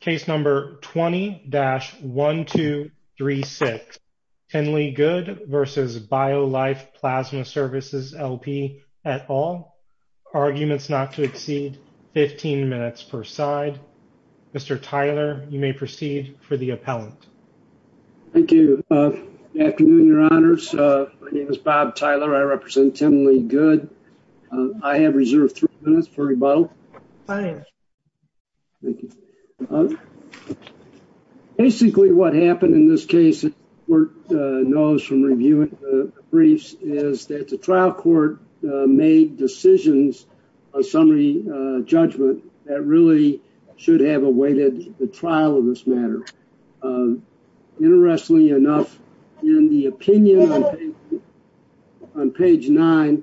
Case number 20-1236. Tenley Good v. BioLife Plasma Services LP et al. Arguments not to exceed 15 minutes per side. Mr. Tyler, you may proceed for the appellant. Thank you. Good afternoon, your honors. My name is Bob Tyler. I represent Tenley Good. I have reserved three minutes for rebuttal. Fine. Thank you. Basically, what happened in this case, as the court knows from reviewing the briefs, is that the trial court made decisions on summary judgment that really should have awaited the trial of this matter. Interestingly enough, in the opinion on page nine,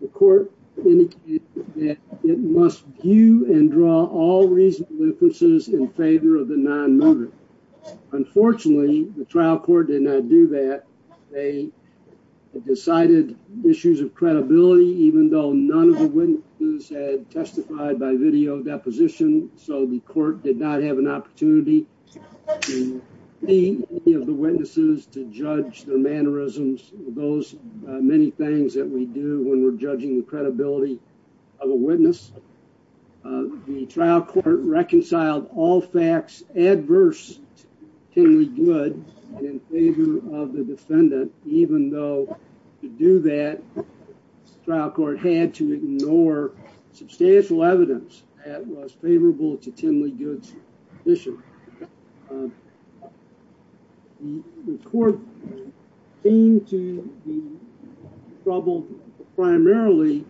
the court indicated that it must view and draw all reasonable inferences in favor of the non-moving. Unfortunately, the trial court did not do that. They decided issues of credibility, even though none of the witnesses had testified by video deposition, so the court did not have an opportunity to see any of the witnesses to judge their mannerisms, those many things that we do when we're judging the credibility of a witness. The trial court reconciled all facts adverse to Tenley Good in favor of the defendant, even though to do that, the trial court had to ignore substantial evidence that was favorable to Tenley Good's position. The court came to the trouble primarily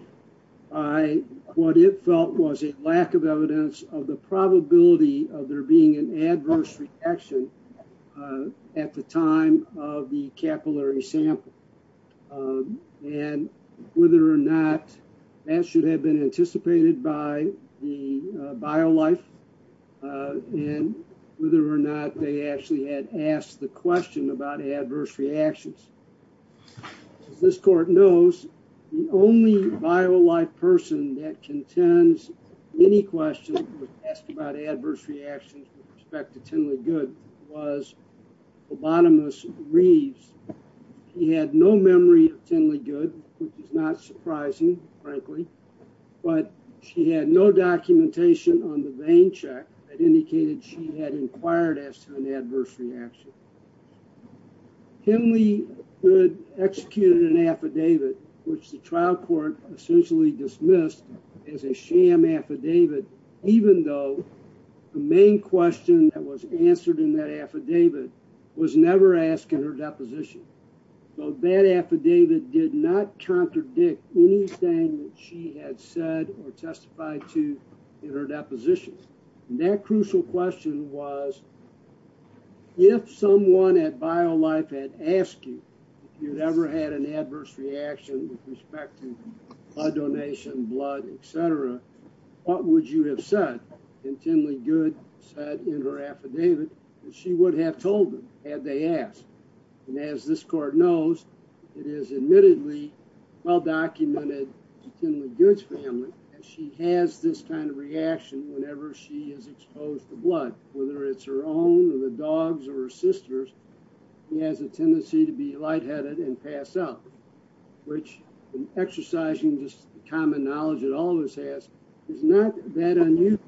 by what it felt was a lack of evidence of the probability of there being an adverse reaction at the time of the capillary sample, and whether or not that should have been anticipated by the bio-life, and whether or not they actually had asked the question about adverse reactions. As this court knows, the only bio-life person that contends any question was asked about adverse reactions with respect to Tenley Good was Obanimus Reeves. He had no memory of Tenley Good, which is not surprising, frankly, but she had no documentation on the vein check that indicated she had inquired as to an adverse reaction. Tenley Good executed an affidavit, which the trial court essentially dismissed as a sham affidavit, even though the main question that was answered in that affidavit was never asked in her deposition. So that affidavit did not contradict anything that she had said or testified to in her deposition. That crucial question was, if someone at bio-life had asked you if you'd ever had an adverse reaction with respect to blood donation, blood, etc., what would you have said? And Tenley Good said in her affidavit that she would have told them had they asked. And as this court knows, it is admittedly well-documented in Tenley Good's family that she has this kind of reaction whenever she is exposed to blood, whether it's her own or the tendency to be lightheaded and pass out, which in exercising just the common knowledge that all of us has, is not that unusual.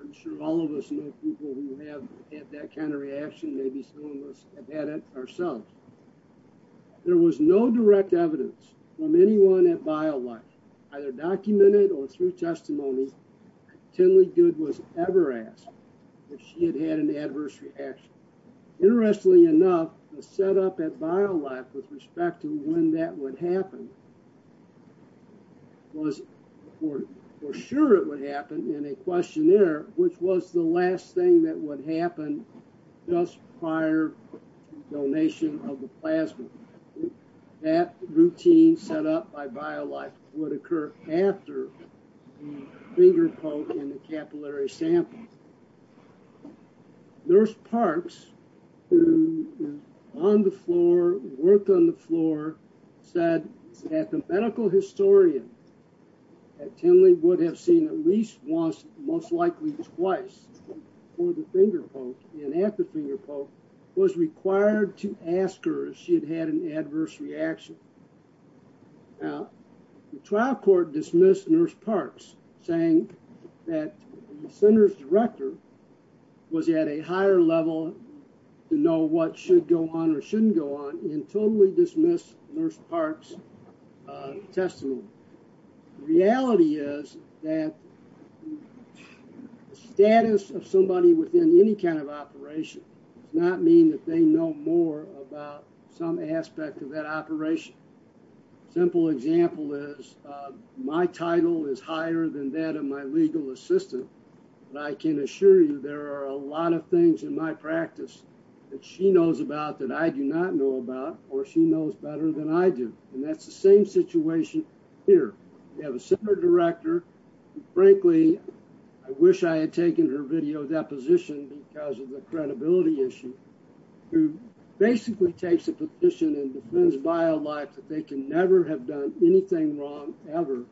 I'm sure all of us know people who have had that kind of reaction, maybe some of us have had it ourselves. There was no direct evidence from anyone at bio-life, either documented or through testimony, that Tenley Good was ever asked if she had had an at bio-life with respect to when that would happen. Was for sure it would happen in a questionnaire, which was the last thing that would happen just prior to donation of the plasma. That routine set up by bio-life would occur after the finger poke in the capillary sample. Nurse Parks, who was on the floor, worked on the floor, said that the medical historian at Tenley would have seen at least once, most likely twice, before the finger poke and at the finger poke, was required to ask her if she had had an adverse reaction. Now the trial court dismissed Nurse Parks saying that the center's director was at a higher level to know what should go on or shouldn't go on and totally dismissed Nurse Parks testimony. The reality is that the status of somebody within any kind of operation does not that they know more about some aspect of that operation. Simple example is my title is higher than that of my legal assistant, but I can assure you there are a lot of things in my practice that she knows about that I do not know about or she knows better than I do. And that's the same situation here. You have a center director, and frankly, I wish I had taken her video deposition because of the credibility issue, who basically takes a petition and defends bio life that they can never have done anything wrong ever.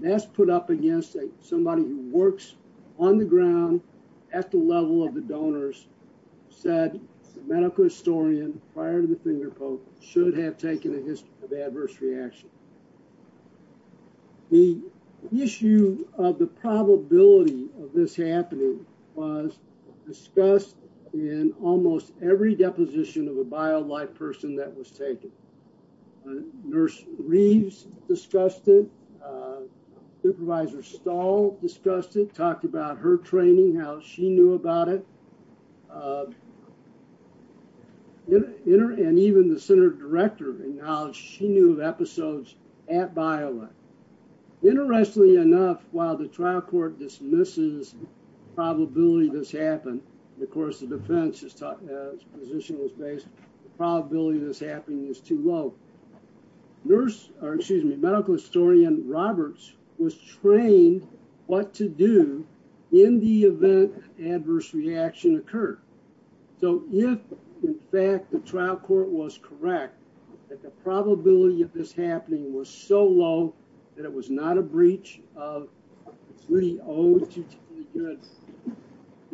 That's put up against somebody who works on the ground at the level of the donors, said medical historian prior to the finger poke should have taken a adverse reaction. The issue of the probability of this happening was discussed in almost every deposition of a bio life person that was taken. Nurse Reeves discussed it. Supervisor Stahl discussed it, talked about her training, how she knew about it. And even the center director acknowledged she knew of episodes at bio life. Interestingly enough, while the trial court dismisses the probability this happened, of course, the defense's position was based, the probability of this happening is too low. Nurse, or excuse me, medical historian Roberts was trained what to do in the event adverse reaction occurred. So if, in fact, the trial court was correct that the probability of this happening was so low that it was not a breach of 302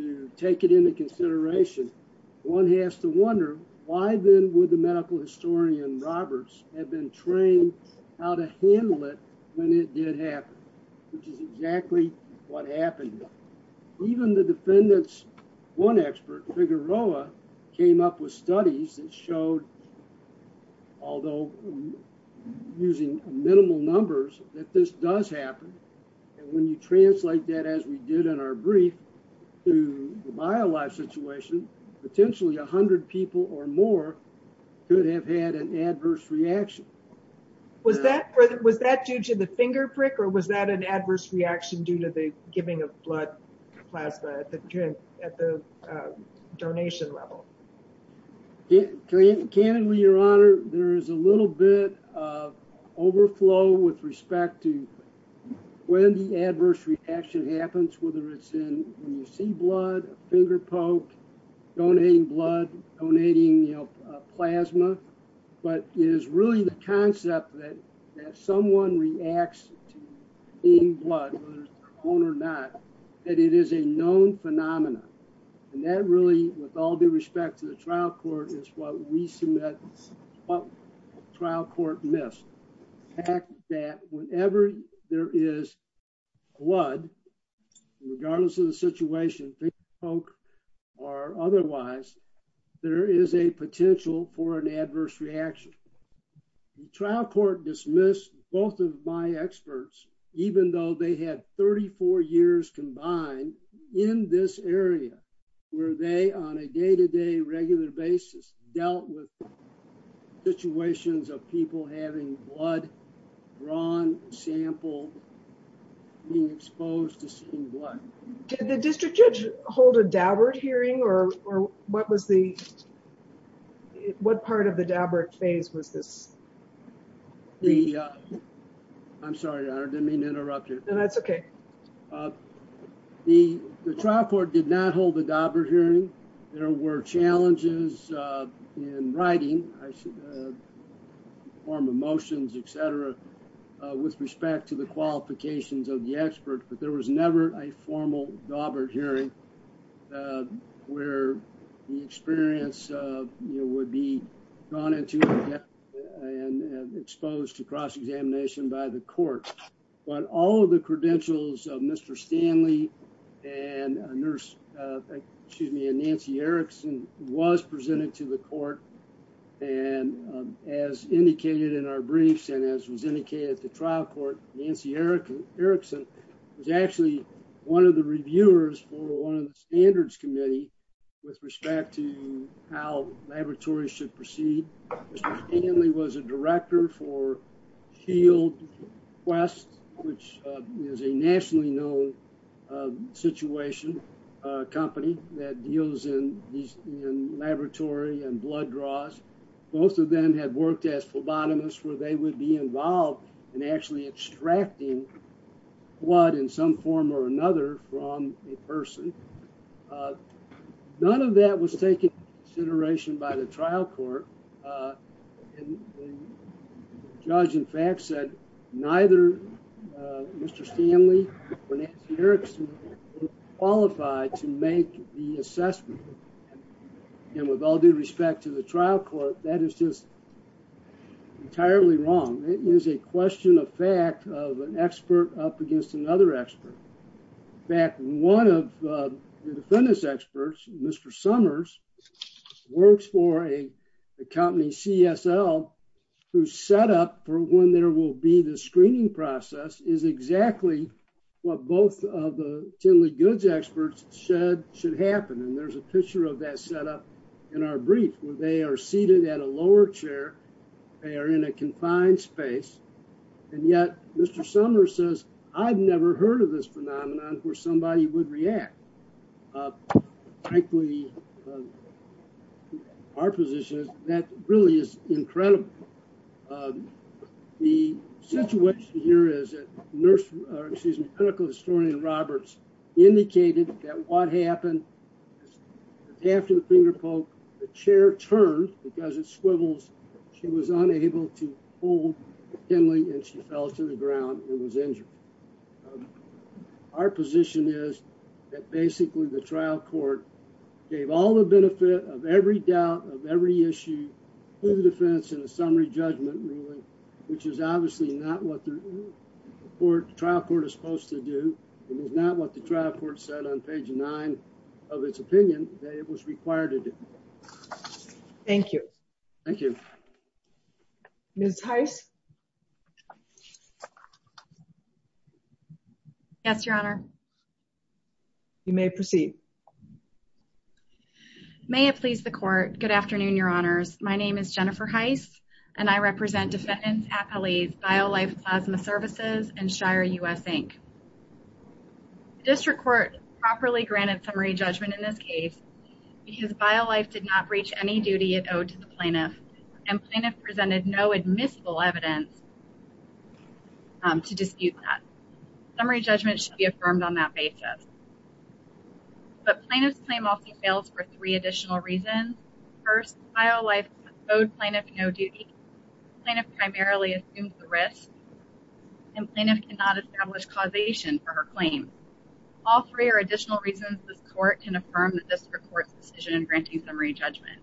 to take it into consideration, one has to wonder why then would the medical historian Roberts have been trained how to handle it when it did happen, which is exactly what happened. Even the defendant's one expert, Figueroa, came up with studies that showed, although using minimal numbers, that this does happen. And when you translate that as we did in our brief to the bio life situation, potentially 100 people or more could have had an adverse reaction. Was that due to the finger prick or was that an adverse reaction due to the giving of blood plasma at the donation level? Candidly, your honor, there is a little bit of overflow with respect to when the adverse reaction happens, whether it's in when you see blood, finger poke, donating blood, donating plasma, but it is really the concept that someone reacts to on or not, that it is a known phenomenon. And that really, with all due respect to the trial court, is what we submit what trial court missed. The fact that whenever there is blood, regardless of the situation, finger poke or otherwise, there is a potential for an adverse reaction. The trial court dismissed both of my experts, even though they had 34 years combined in this area, where they, on a day-to-day regular basis, dealt with situations of people having blood drawn, sampled, being exposed to seeing blood. Did the district judge hold a Daubert hearing or what was the, what part of the Daubert phase was this? I'm sorry, your honor, didn't mean to interrupt you. That's okay. The trial court did not hold the Daubert hearing. There were challenges in writing, form of motions, etc., with respect to the qualifications of the where the experience would be gone into and exposed to cross-examination by the court. But all of the credentials of Mr. Stanley and Nancy Erickson was presented to the court. And as indicated in our briefs and as was indicated at the trial court, Nancy Erickson was actually one of the reviewers for one of the standards committee with respect to how laboratories should proceed. Mr. Stanley was a director for Shield Quest, which is a nationally known situation company that deals in laboratory and blood draws. Both of them had worked as involved in actually extracting blood in some form or another from a person. None of that was taken into consideration by the trial court. The judge, in fact, said neither Mr. Stanley or Nancy Erickson were qualified to make the assessment. And with all due respect to the trial court, that is just entirely wrong. It is a question of fact of an expert up against another expert. In fact, one of the defendants' experts, Mr. Summers, works for a company, CSL, whose setup for when there will be the screening process is exactly what both of the Tinley Goods experts said should happen. And there's a picture of that setup in our brief, where they are seated at a lower chair. They are in a confined space. And yet, Mr. Summers says, I've never heard of this phenomenon where somebody would react. Our position is that really is incredible. The situation here is that clinical historian Roberts indicated that what happened after the finger poke, the chair turned because it swivels. She was unable to hold Tinley, and she fell to the ground and was injured. Our position is that basically the trial court gave all the benefit of every doubt of every issue to the defense in a summary judgment ruling, which is obviously not what the court, the trial court is supposed to do. It is not what the trial court said on page nine of its opinion that it was required to do. Thank you. Thank you. Ms. Heiss. Yes, Your Honor. You may proceed. May it please the court. Good afternoon, Your Honors. My name is Jennifer Heiss, and I represent defendants at Biolife Plasma Services and Shire U.S. Inc. The district court properly granted summary judgment in this case because Biolife did not breach any duty it owed to the plaintiff, and plaintiff presented no admissible evidence to dispute that. Summary judgment should be affirmed on that basis. But plaintiff's claim also fails for three additional reasons. First, Biolife owed plaintiff no duty. Plaintiff primarily assumed the risk, and plaintiff cannot establish causation for her claim. All three are additional reasons this court can affirm that this is the court's decision in granting summary judgment.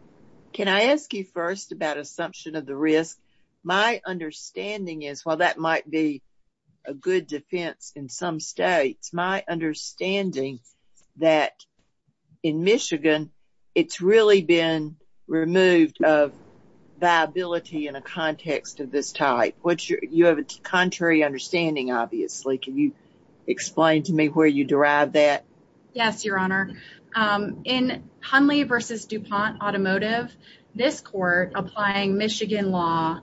Can I ask you first about assumption of the risk? My understanding is while that might be a good defense in some states, my understanding that in Michigan it's been removed of viability in a context of this type. You have a contrary understanding, obviously. Can you explain to me where you derive that? Yes, Your Honor. In Hundley v. DuPont Automotive, this court, applying Michigan law,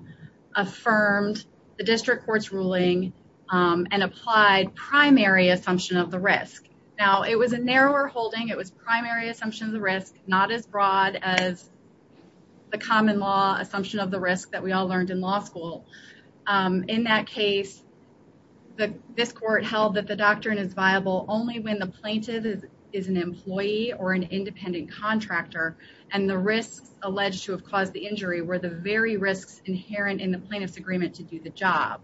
affirmed the district court's ruling and applied primary assumption of the risk. Now, it was a narrower holding. It was primary assumption of the risk, not as broad as the common law assumption of the risk that we all learned in law school. In that case, this court held that the doctrine is viable only when the plaintiff is an employee or an independent contractor, and the risks alleged to have caused the injury were the very risks inherent in the plaintiff's agreement to do the job.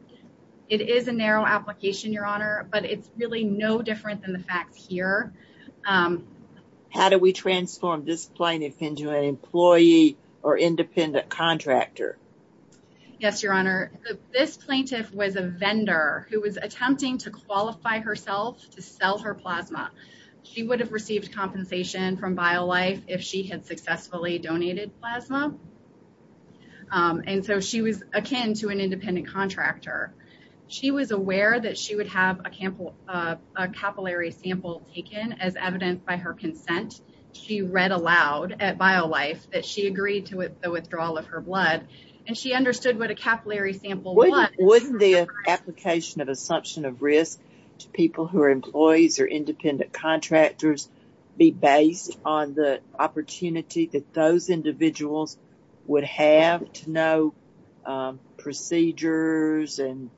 It is a narrow application, Your Honor, but it's really no different than the facts here. How do we transform this plaintiff into an employee or independent contractor? Yes, Your Honor. This plaintiff was a vendor who was attempting to qualify herself to sell her plasma. She would have received compensation from BioLife if she had successfully donated plasma, and so she was akin to an independent contractor. She was aware that she would have a capillary sample taken as evidenced by her consent. She read aloud at BioLife that she agreed to the withdrawal of her blood, and she understood what a capillary sample was. Wouldn't the application of assumption of risk to people who are employees or independent contractors be based on the opportunity that those individuals would have to know procedures and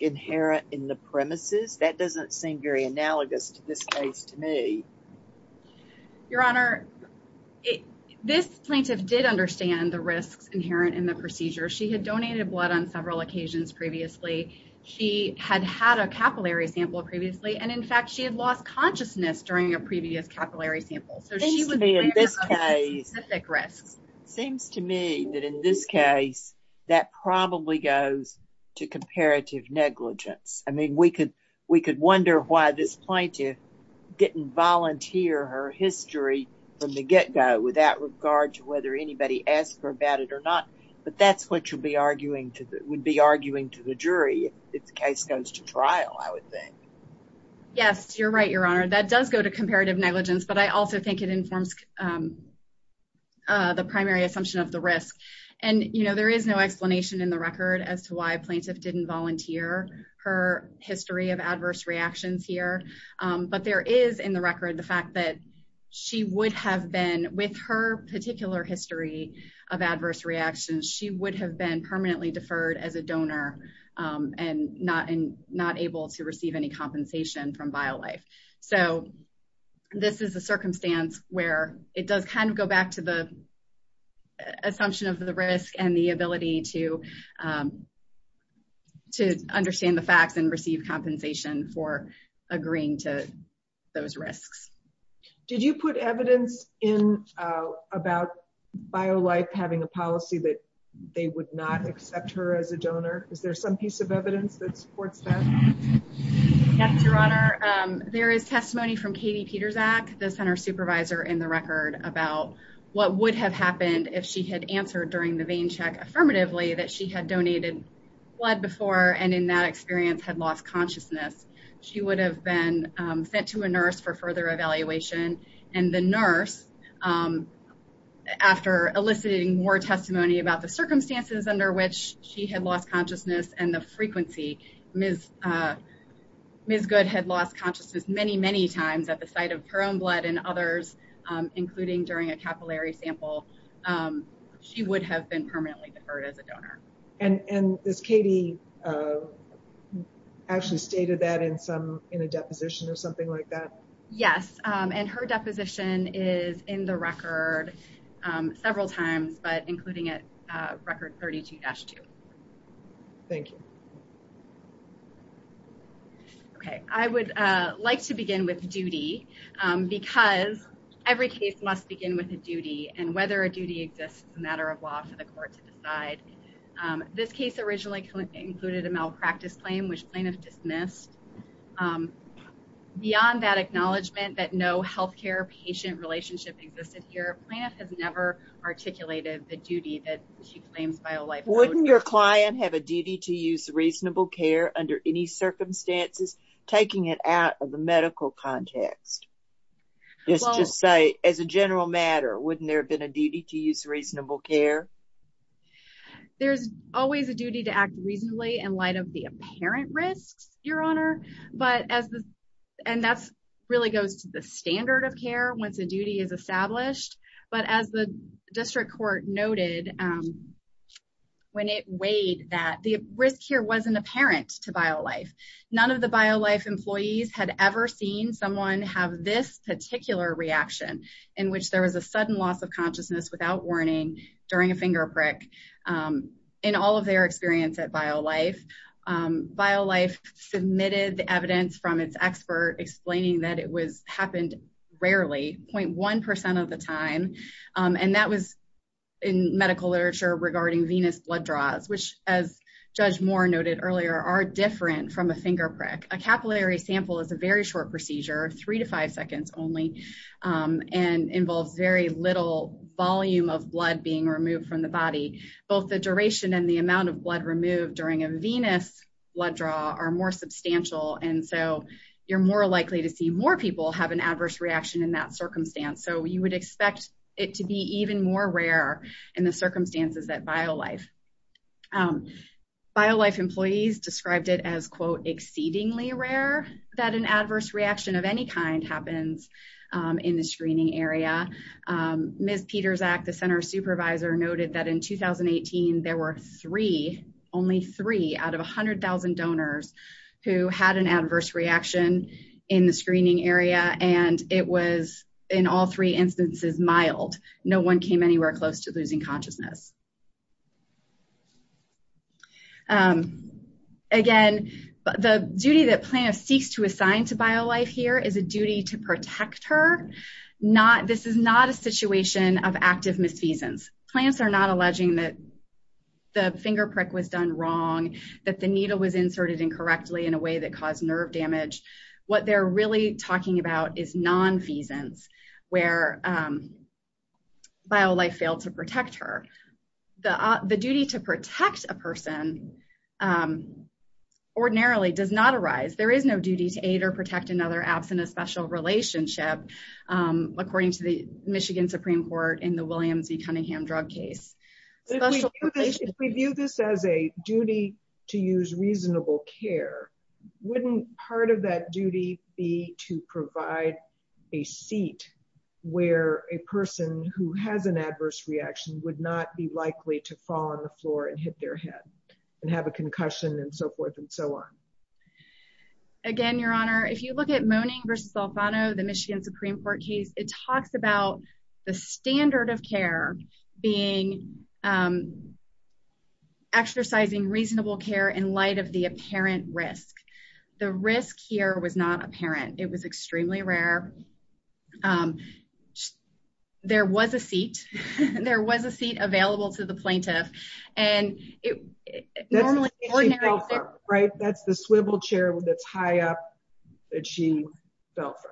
inherent in the premises? That doesn't seem very analogous to this case to me. Your Honor, this plaintiff did understand the risks inherent in the procedure. She had donated blood on several occasions previously. She had had a capillary sample previously, and in fact, she had lost consciousness during a previous capillary sample, so she was aware of the specific risks. Seems to me that in this case, that probably goes to comparative negligence. I mean, we could wonder why this plaintiff didn't volunteer her history from the get-go without regard to whether anybody asked her about it or not, but that's what you'd be arguing to the jury if the case goes to trial, I would think. Yes, you're right, Your Honor. That does go to comparative negligence, but I also think it informs the primary assumption of the risk, and there is no explanation in the record as to why a plaintiff didn't volunteer her history of adverse reactions here, but there is in the record the fact that she would have been, with her particular history of adverse reactions, she would have been permanently deferred as a donor and not able to receive any compensation from BioLife, so this is a circumstance where it does kind of go back to the assumption of the risk and the ability to understand the facts and receive compensation for agreeing to those risks. Did you put evidence in about BioLife having a policy that they would not accept her as a donor? Is there some piece of evidence that supports that? Yes, Your Honor. There is testimony from Katie Pietrzak, the center supervisor, in the record about what would have happened if she had answered during the vein check affirmatively that she had donated blood before and in that experience had lost consciousness. She would have been sent to a nurse for further evaluation, and the nurse, after eliciting more testimony about the circumstances under which she had lost consciousness and the frequency. Ms. Good had lost consciousness many, many times at the site of her own blood and others, including during a capillary sample. She would have been permanently deferred as a donor. And has Katie actually stated that in a deposition or something like that? Yes, and her deposition is in the record several times, but including at record 32-2. Thank you. Okay, I would like to begin with duty, because every case must begin with a duty, and whether a duty exists is a matter of law for the court to decide. This case originally included a malpractice claim, which plaintiffs dismissed. Beyond that acknowledgement that no healthcare patient relationship existed here, plaintiff has never articulated the duty that she claims. Wouldn't your client have a duty to use reasonable care under any circumstances, taking it out of the medical context? Just to say, as a general matter, wouldn't there have been a duty to use reasonable care? There's always a duty to act reasonably in light of the apparent risks, Your Honor, and that really goes to the standard of care once a duty is established. But as the District Court noted when it weighed that, the risk here wasn't apparent to BioLife. None of the BioLife employees had ever seen someone have this particular reaction, in which there was a sudden loss consciousness without warning during a finger prick, in all of their experience at BioLife. BioLife submitted the evidence from its expert explaining that it happened rarely, 0.1% of the time, and that was in medical literature regarding venous blood draws, which as Judge Moore noted earlier, are different from a finger prick. A capillary sample is a very short procedure, three to five seconds only, and involves very little volume of blood being removed from the body. Both the duration and the amount of blood removed during a venous blood draw are more substantial, and so you're more likely to see more people have an adverse reaction in that circumstance. So you would expect it to be even more rare in the circumstances at BioLife. BioLife employees described it as, quote, exceedingly rare that an adverse reaction of any kind happens in the screening area. Ms. Pieterzak, the Center Supervisor, noted that in 2018 there were three, only three, out of 100,000 donors who had an adverse reaction in the screening area, and it was in all three instances mild. No one came anywhere close to losing consciousness. Again, the duty that plants seek to assign to BioLife here is a duty to protect her. This is not a situation of active misfeasance. Plants are not alleging that the finger prick was done wrong, that the needle was inserted incorrectly in a way that caused nerve damage. What they're really talking about is non-feasance, where BioLife failed to protect her. The duty to protect a person ordinarily does not arise. There is no duty to aid or protect another absent a special relationship, according to the Michigan Supreme Court in the Williams v. Cunningham drug case. If we view this as a duty to use reasonable care, wouldn't part of that duty be to provide a seat where a person who has an adverse reaction would not be likely to fall on the floor and hit their head and have a concussion and so forth and so on? Again, Your Honor, if you look at Moning v. Solfano, the Michigan Supreme Court case, it talks about the standard of care being exercising reasonable care in light of the apparent. It was extremely rare. There was a seat. There was a seat available to the plaintiff. That's the swivel chair that's high up that she fell from.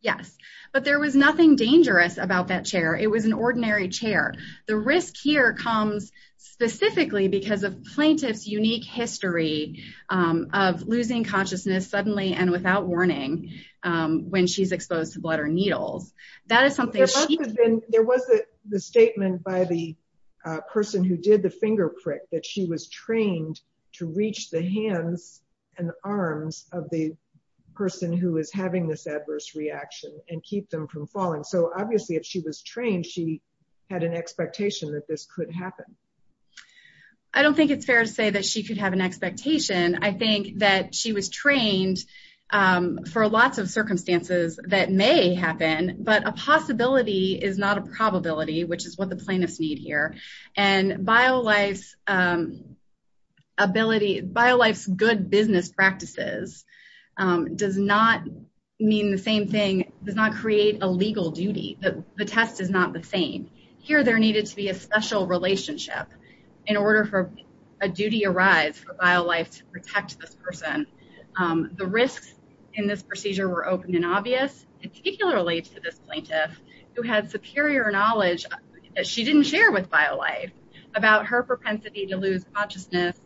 Yes, but there was nothing dangerous about that chair. It was an ordinary chair. The risk here comes specifically because of plaintiff's unique history of losing consciousness suddenly and without warning when she's exposed to blood or needles. There was a statement by the person who did the finger prick that she was trained to reach the hands and arms of the person who is having this adverse reaction and keep them from falling. Obviously, if she was trained, she had an expectation that this could happen. I don't think it's fair to say that she could have an expectation. I think that she was trained for lots of circumstances that may happen, but a possibility is not a probability, which is what the plaintiffs need here. BioLife's good business practices does not mean the same thing, does not create a legal duty. The test is not the same. Here, there needed to be a special relationship in order for a duty arise for BioLife to protect this person. The risks in this procedure were open and obvious, particularly to this plaintiff, who had superior knowledge that she didn't share with BioLife about her propensity to lose consciousness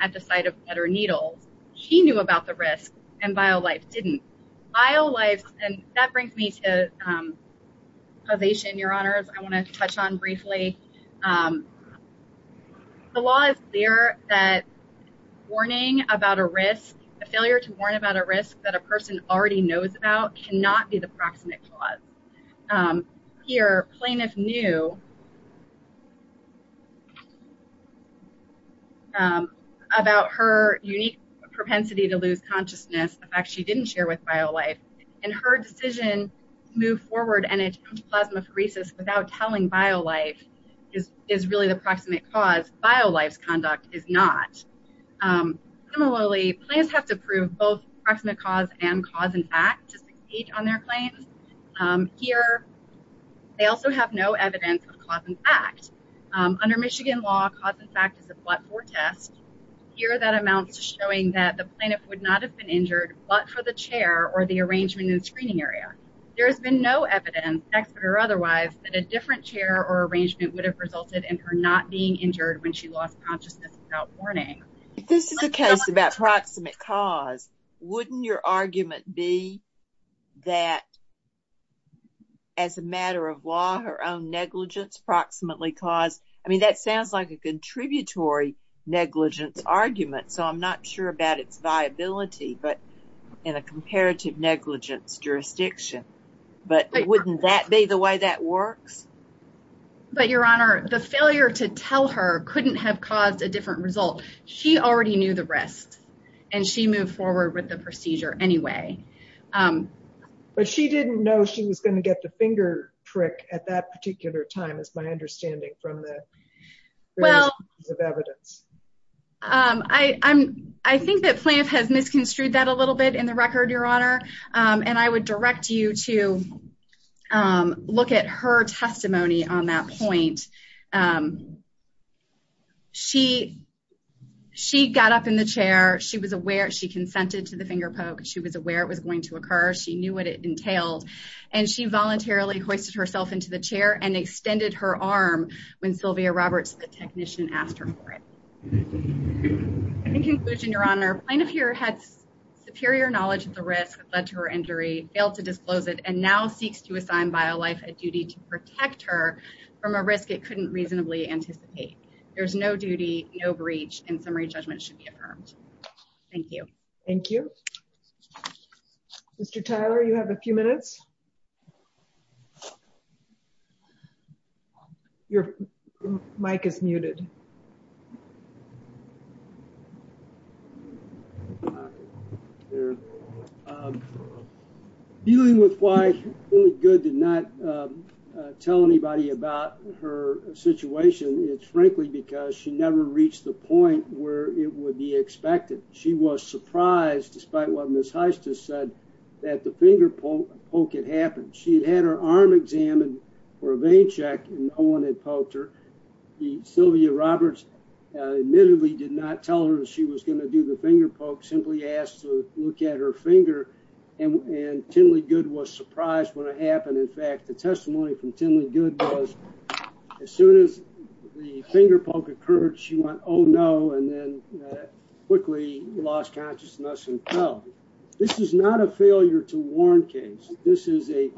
at the sight of blood or needles. She knew about the risk and BioLife didn't. BioLife, and that brings me to causation, Your Honors, I want to touch on briefly. The law is clear that a failure to warn about a risk that a person already knows about cannot be the proximate cause. Here, plaintiff knew about her unique propensity to lose consciousness, the fact she didn't share with BioLife, and her decision to move forward and attempt plasmapheresis without telling BioLife is really the proximate cause. BioLife's conduct is not. Similarly, plaintiffs have to prove both proximate cause and cause-in-fact to succeed on their claims. Here, they also have no evidence of cause-in-fact. Under Michigan law, cause-in-fact is a but-for test. Here, that amounts to showing that the plaintiff would not have been injured but for the chair or the arrangement in the screening area. There has been no evidence, expert or otherwise, that a different chair or arrangement would have resulted in her not being injured when she lost consciousness without warning. If this is the case about proximate cause, wouldn't your argument be that as a matter of law, her own negligence caused... I mean, that sounds like a contributory negligence argument, so I'm not sure about its viability in a comparative negligence jurisdiction, but wouldn't that be the way that works? But your honor, the failure to tell her couldn't have caused a different result. She already knew the rest and she moved forward with the procedure anyway. But she didn't know she was going to get the finger trick at that particular time, is my understanding from the evidence. Well, I think that plaintiff has misconstrued that a little bit in the record, your honor, and I would direct you to look at her testimony on that point. She got up in the chair. She was aware. She consented to the finger poke. She was aware it was going to occur. She knew what it entailed, and she voluntarily hoisted herself into the chair and extended her arm when Sylvia Roberts, the technician, asked her for it. In conclusion, your honor, plaintiff here had superior knowledge of the risk that led to her injury, failed to disclose it, and now seeks to assign bio life a duty to protect her from a risk it couldn't reasonably anticipate. There's no duty, no breach, and summary judgment should be affirmed. Thank you. Thank you. Mr. Tyler, you have a few minutes. Your mic is muted. Dealing with why it's only good to not tell anybody about her situation, it's frankly because she never reached the point where it would be expected. She was surprised, despite what Ms. Heister said, that the finger poke had happened. She had had her arm examined for a vein check and no one had poked her. Sylvia Roberts admittedly did not tell her she was going to do the finger poke, simply asked to look at her finger, and Tinley Good was surprised when it happened. In her case, she went, oh, no, and then quickly lost consciousness and fell. This is not a failure to warn case. This is a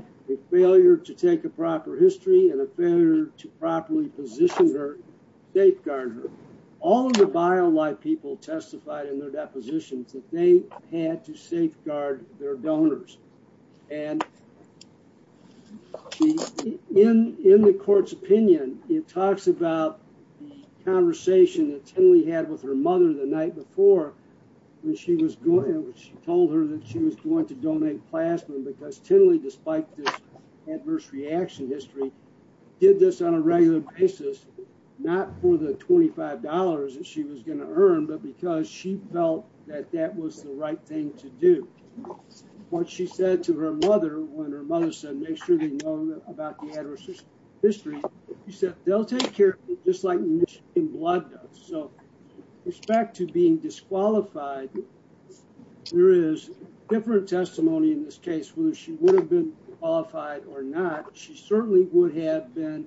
failure to take a proper history and a failure to properly position her, safeguard her. All of the bio life people testified in their depositions that they had to safeguard their donors. In the court's opinion, it talks about the conversation that Tinley had with her mother the night before when she told her that she was going to donate plasma because Tinley, despite this adverse reaction history, did this on a regular basis, not for the $25 that she was going to earn, but because she felt that that was the right thing to do. What she said to her mother when her mother said make sure they know about the adverse history, she said, they'll take care of it just like Michigan blood does. So with respect to being disqualified, there is different testimony in this case whether she would have been qualified or not. She certainly would have been,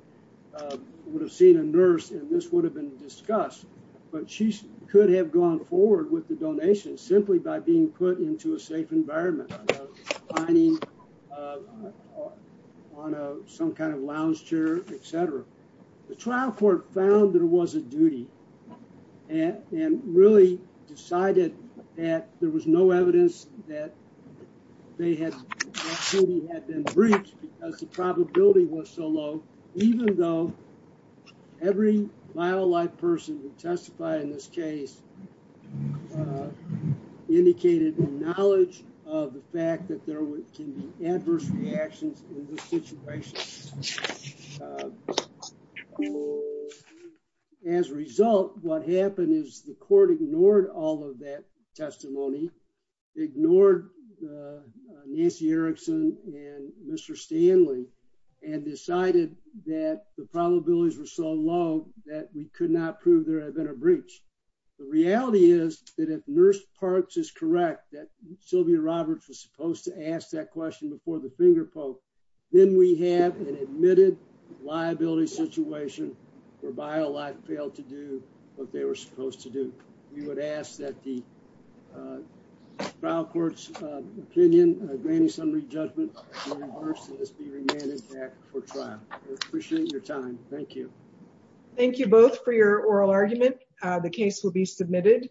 would have seen a nurse and this would have been discussed, but she could have gone forward with the donation simply by being put into a safe environment, hiding on some kind of lounge chair, et cetera. The trial court found that it was a duty and really decided that there was no evidence that they had, that Tinley had been breached because the probability was so low, even though every vital life person who testified in this case indicated the knowledge of the fact that there can be adverse reactions in this situation. As a result, what happened is the court ignored all of that testimony, ignored Nancy Erickson and Mr. Stanley and decided that the probabilities were so low that we could not prove there had been a breach. The reality is that if Nurse Parks is correct, that Sylvia Roberts was supposed to ask that question before the finger poke, then we have an admitted liability situation where vital life failed to do what they were supposed to do. We would ask that the trial court's opinion, granting summary judgment, be reimbursed and this be remanded back for trial. Appreciate your time. Thank you. Thank you both for your oral argument. The case will be submitted.